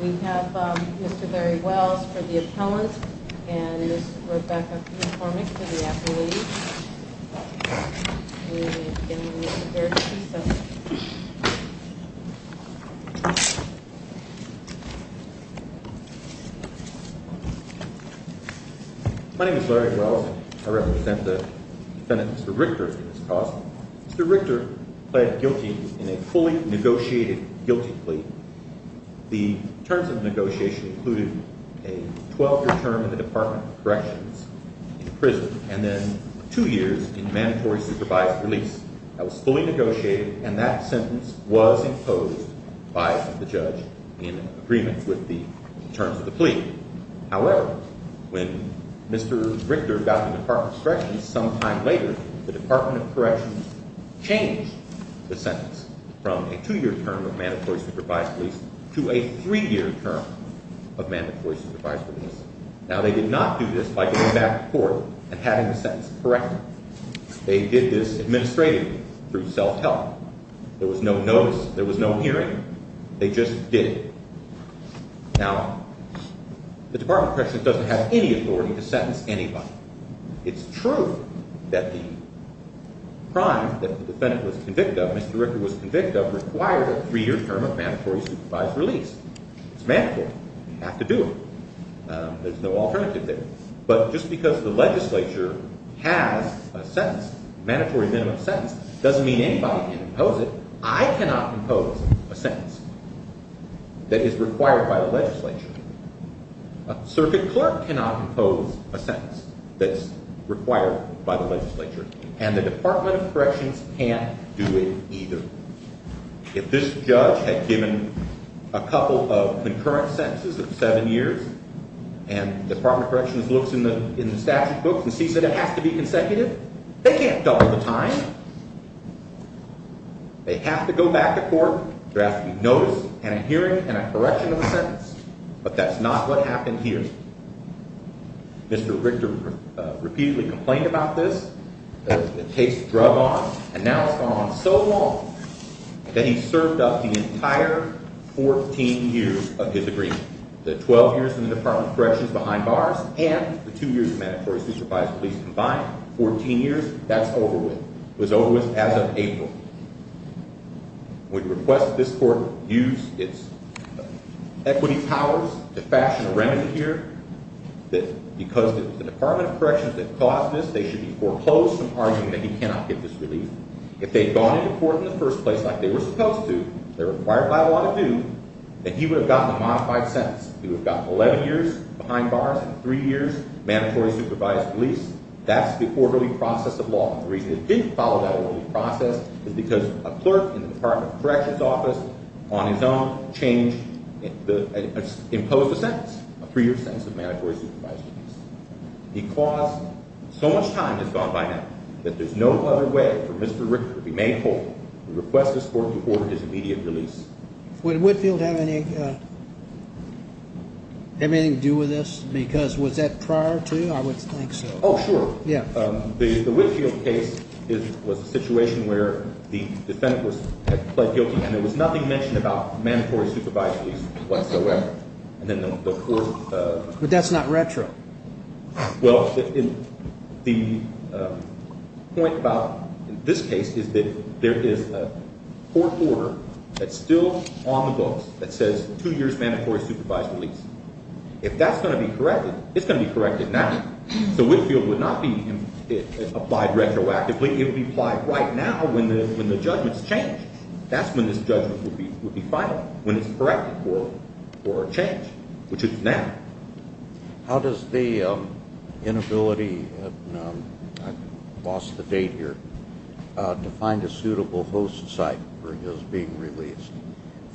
We have Mr. Barry Wells for the appellant and Ms. Rebecca Kornick for the appellate. Mr. Wells, I represent the defendant, Mr. Richter, for this cause. Mr. Richter pled guilty in a fully negotiated guilty plea. The terms of the negotiation included a 12-year term in the Department of Corrections in prison and then two years in mandatory supervised release. That was fully negotiated and that sentence was imposed by the judge in agreement with the terms of the plea. However, when Mr. Richter got to the Department of Corrections some time later, the Department of Corrections changed the sentence from a two-year term of mandatory supervised release to a three-year term of mandatory supervised release. Now, they did not do this by going back to court and having the sentence corrected. They did this administratively through self-help. There was no notice. There was no hearing. They just did it. Now, the Department of Corrections doesn't have any authority to sentence anybody. It's true that the crime that the defendant was convicted of, Mr. Richter was convicted of, required a three-year term of mandatory supervised release. It's mandatory. You have to do it. There's no alternative there. But just because the legislature has a sentence, a mandatory minimum sentence, doesn't mean anybody can impose it. I cannot impose a sentence that is required by the legislature. A circuit clerk cannot impose a sentence that's required by the legislature. And the Department of Corrections can't do it either. If this judge had given a couple of concurrent sentences of seven years and the Department of Corrections looks in the statute books and sees that it has to be consecutive, they can't double the time. They have to go back to court. There has to be notice and a hearing and a correction of the sentence. But that's not what happened here. Mr. Richter repeatedly complained about this. It takes the drug on. And now it's gone on so long that he's served up the entire 14 years of his agreement. The 12 years in the Department of Corrections behind bars and the two years of mandatory supervised release combined, 14 years, that's over with. It was over with as of April. We request that this court use its equity powers to fashion a remedy here, that because it was the Department of Corrections that caused this, they should be foreclosed from arguing that he cannot get this relief. If they had gone into court in the first place like they were supposed to, they're required by law to do, that he would have gotten a modified sentence. He would have gotten 11 years behind bars and three years mandatory supervised release. That's the orderly process of law. The reason it didn't follow that orderly process is because a clerk in the Department of Corrections office on his own changed, imposed a sentence, a three-year sentence of mandatory supervised release. He caused so much time has gone by now that there's no other way for Mr. Richter to be made whole and request this court to order his immediate release. Would Whitfield have anything to do with this? Because was that prior to, I would think so. Oh, sure. The Whitfield case was a situation where the defendant had pled guilty and there was nothing mentioned about mandatory supervised release whatsoever. But that's not retro. Well, the point about this case is that there is a court order that's still on the books that says two years mandatory supervised release. If that's going to be corrected, it's going retroactively. It would be applied right now when the judgment's changed. That's when this judgment would be final, when it's corrected for a change, which it's now. How does the inability, I've lost the date here, to find a suitable host site for his being released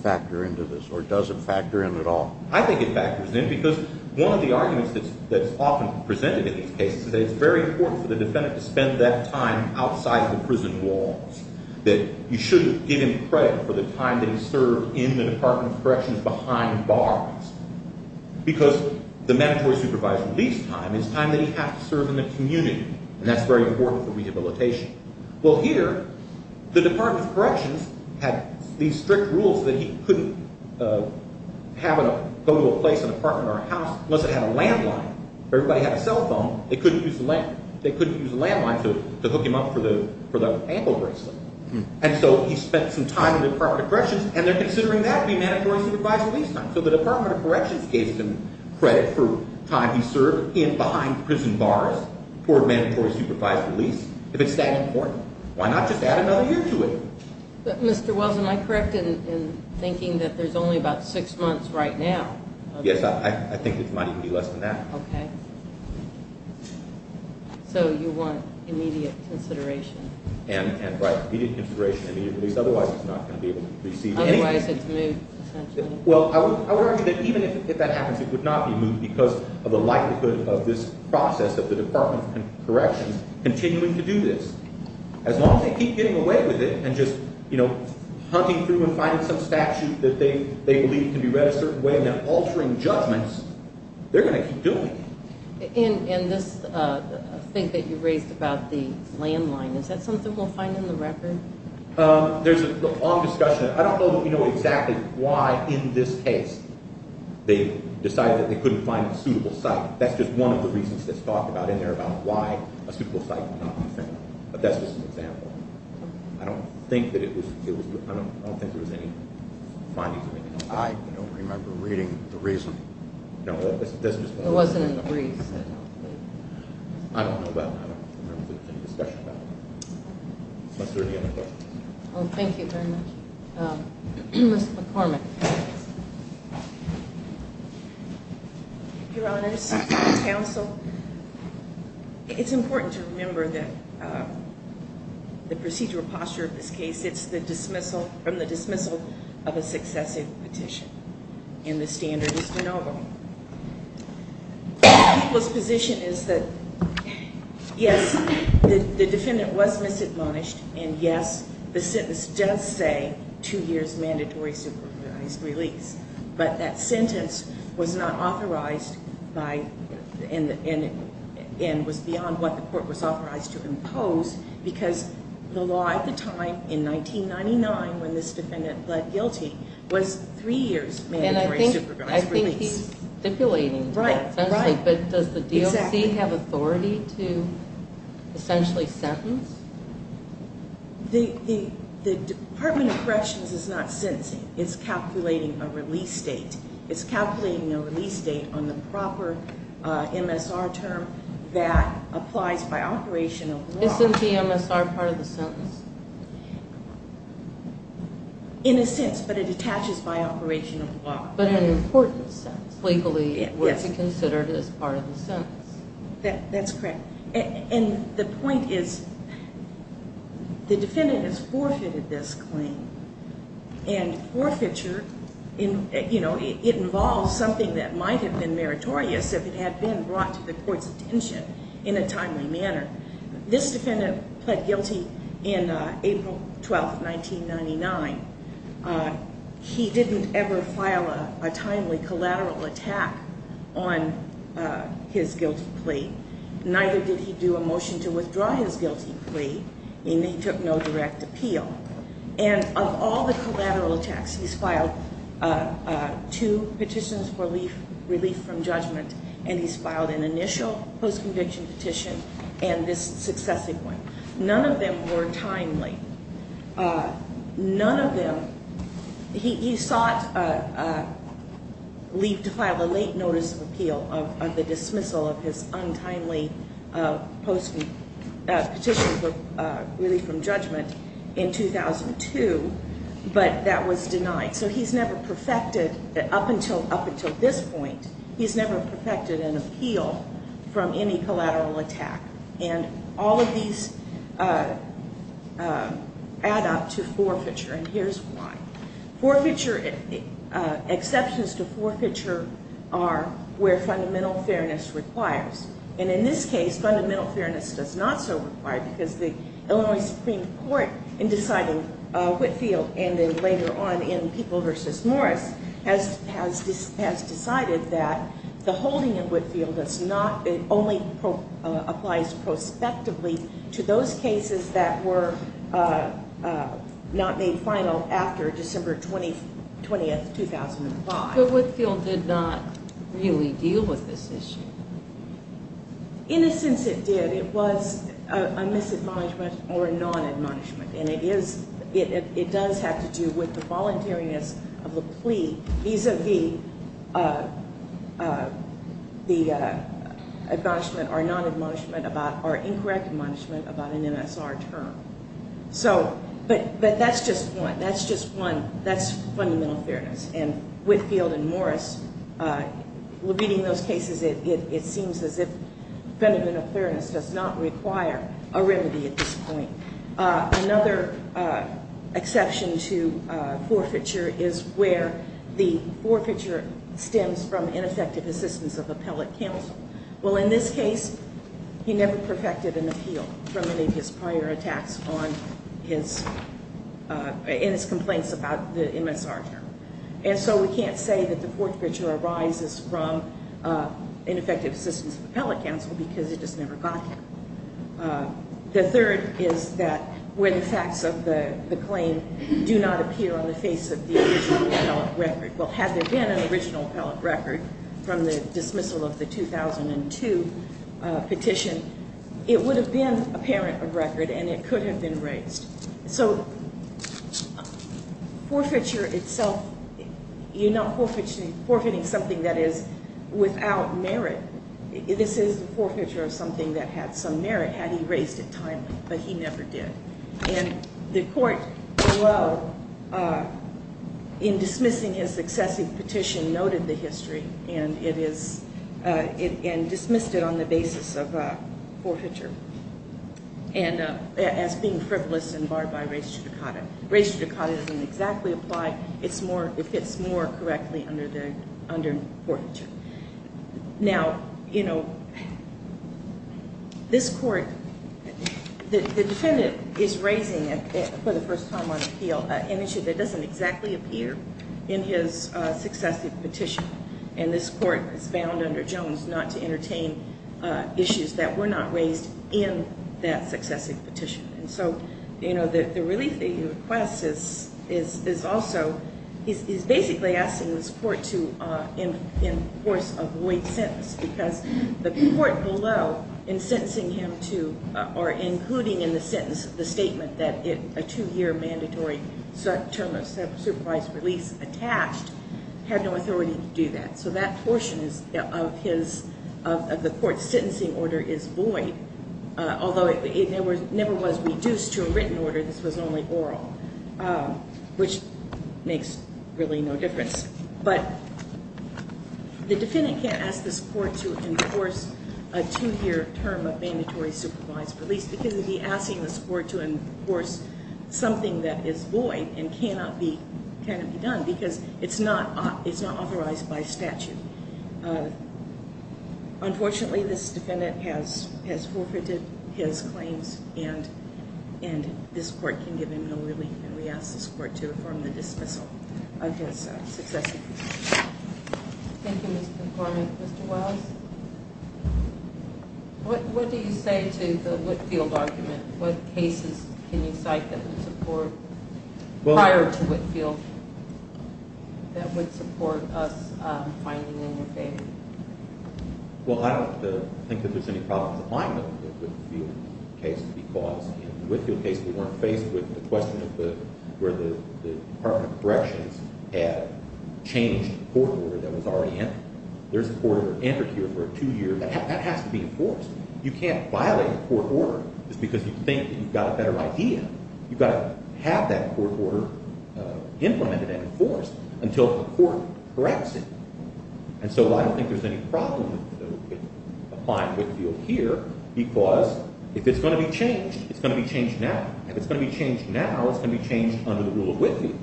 factor into this, or does it factor in at all? I think it factors in because one of the arguments that's often presented in these cases is that it's very important for the defendant to spend that time outside the prison walls, that you shouldn't give him credit for the time that he served in the Department of Corrections behind bars because the mandatory supervised release time is time that he has to serve in the community, and that's very important for rehabilitation. Well, here, the Department of Corrections had these strict rules that he couldn't go to a place, an apartment or a house, unless it had a landline. If everybody had a cell phone, they couldn't use the landline to hook him up for the ankle bracelet. And so he spent some time in the Department of Corrections, and they're considering that to be mandatory supervised release time. So the Department of Corrections gave him credit for the time he served behind prison bars for mandatory supervised release. If it's that important, why not just add another year to it? But, Mr. Wells, am I correct in thinking that there's only about six months right now? Yes, I think it might even be less than that. Okay. So you want immediate consideration? And, right, immediate consideration, immediate release. Otherwise, he's not going to be able to receive anything. Otherwise, it's moved, essentially. Well, I would argue that even if that happens, it would not be moved because of the likelihood of this process of the Department of Corrections continuing to do this. As long as they keep getting away with it and just hunting through and finding some statute that they believe can be read a certain way and then altering judgments, they're going to keep doing it. And this thing that you raised about the landline, is that something we'll find in the record? There's a long discussion. I don't know that we know exactly why in this case they decided that they couldn't find a suitable site. That's just one of the reasons that's talked about in there about why a suitable site would not be found. But that's just an example. I don't think that it was – I don't think there was any findings of any kind. I don't remember reading the reason. No, that's just my opinion. It wasn't in the briefs, I don't think. I don't know about it. I don't remember any discussion about it. Are there any other questions? Well, thank you very much. Ms. McCormick. Your Honors, Counsel, it's important to remember that the procedural posture of this case, it's the dismissal – from the dismissal of a successive petition, and the standard is de novo. People's position is that, yes, the defendant was misadmonished, and yes, the sentence does say two years' mandatory supervised release. But that sentence was not authorized by – and was beyond what the court was authorized to impose, because the law at the time, in 1999, when this defendant pled guilty, was three years' mandatory supervised release. I think he's stipulating that, essentially. Right, right. But does the DOC have authority to essentially sentence? The Department of Corrections is not sentencing. It's calculating a release date. It's calculating a release date on the proper MSR term that applies by operation of the law. Isn't the MSR part of the sentence? In a sense, but it attaches by operation of the law. But in an important sense. Legally, it would be considered as part of the sentence. That's correct. And the point is, the defendant has forfeited this claim. And forfeiture, you know, it involves something that might have been meritorious if it had been brought to the court's attention in a timely manner. This defendant pled guilty in April 12, 1999. He didn't ever file a timely collateral attack on his guilty plea. Neither did he do a motion to withdraw his guilty plea, and he took no direct appeal. And of all the collateral attacks, he's filed two petitions for relief from judgment, and he's filed an initial post-conviction petition and this successive one. None of them were timely. None of them, he sought leave to file a late notice of appeal of the dismissal of his untimely petition for relief from judgment in 2002, but that was denied. So he's never perfected, up until this point, he's never perfected an appeal from any collateral attack. And all of these add up to forfeiture, and here's why. Forfeiture, exceptions to forfeiture are where fundamental fairness requires. And in this case, fundamental fairness does not so require because the Illinois Supreme Court, in deciding Whitfield and then later on in People v. Morris, has decided that the holding of Whitfield only applies prospectively to those cases that were not made final after December 20, 2005. But Whitfield did not really deal with this issue. In a sense it did. It was a misadmonishment or a nonadmonishment, and it does have to do with the voluntariness of the plea vis-a-vis the admonishment or nonadmonishment or incorrect admonishment about an MSR term. But that's just one. That's fundamental fairness. And Whitfield and Morris, reading those cases, it seems as if fundamental fairness does not require a remedy at this point. Another exception to forfeiture is where the forfeiture stems from ineffective assistance of appellate counsel. Well, in this case, he never perfected an appeal from any of his prior attacks on his complaints about the MSR term. And so we can't say that the forfeiture arises from ineffective assistance of appellate counsel because it just never got there. The third is that where the facts of the claim do not appear on the face of the original appellate record. Well, had there been an original appellate record from the dismissal of the 2002 petition, it would have been apparent of record and it could have been raised. So forfeiture itself, you're not forfeiting something that is without merit. This is the forfeiture of something that had some merit had he raised it timely, but he never did. And the court, in dismissing his successive petition, noted the history and dismissed it on the basis of forfeiture as being frivolous and barred by res judicata. Res judicata doesn't exactly apply. It fits more correctly under forfeiture. Now, you know, this court, the defendant is raising, for the first time on appeal, an issue that doesn't exactly appear in his successive petition. And this court is bound under Jones not to entertain issues that were not raised in that successive petition. And so, you know, the relief that he requests is also, he's basically asking this court to enforce a void sentence because the court below in sentencing him to, or including in the sentence the statement that a two-year mandatory term of supervised release attached, had no authority to do that. So that portion of the court's sentencing order is void. Although it never was reduced to a written order, this was only oral, which makes really no difference. But the defendant can't ask this court to enforce a two-year term of mandatory supervised release because he'd be asking this court to enforce something that is void and cannot be done because it's not authorized by statute. Unfortunately, this defendant has forfeited his claims and this court can give him no relief. And we ask this court to affirm the dismissal of his successive petition. Thank you, Mr. McCormick. Mr. Wiles, what do you say to the Whitfield argument? What cases can you cite that would support, prior to Whitfield, that would support us finding in your favor? Well, I don't think that there's any problems applying to the Whitfield case because in the Whitfield case, we weren't faced with the question of where the Department of Corrections had changed the court order that was already in. There's a court order entered here for a two-year, that has to be enforced. You can't violate a court order just because you think you've got a better idea. You've got to have that court order implemented and enforced until the court corrects it. And so I don't think there's any problem applying to Whitfield here because if it's going to be changed, it's going to be changed now. If it's going to be changed now, it's going to be changed under the rule of Whitfield.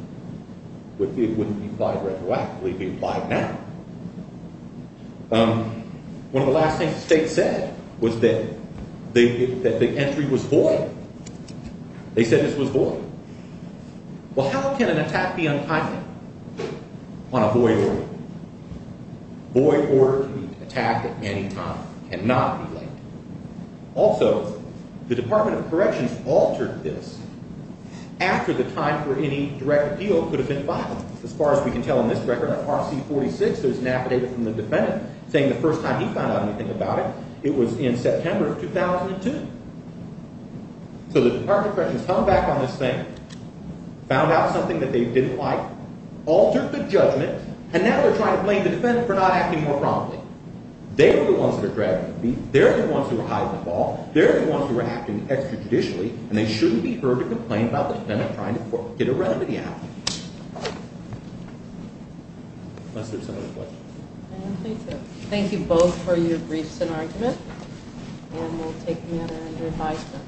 Whitfield wouldn't be applied retroactively if it'd be applied now. One of the last things the state said was that the entry was void. They said this was void. Well, how can an attack be unkindly on a void order? A void order can be attacked at any time. It cannot be late. Also, the Department of Corrections altered this after the time for any direct appeal could have been violated. As far as we can tell in this record, RC 46, there's an affidavit from the defendant saying the first time he found out anything about it, it was in September of 2002. So the Department of Corrections hung back on this thing, found out something that they didn't like, altered the judgment, and now they're trying to blame the defendant for not acting more promptly. They were the ones that were dragging the feet. They're the ones who were hiding the ball. They're the ones who were acting extrajudicially, and they shouldn't be heard to complain about the defendant trying to get a remedy out. Unless there's some other questions. I don't think so. Thank you both for your briefs and argument, and we'll take them in under advisement.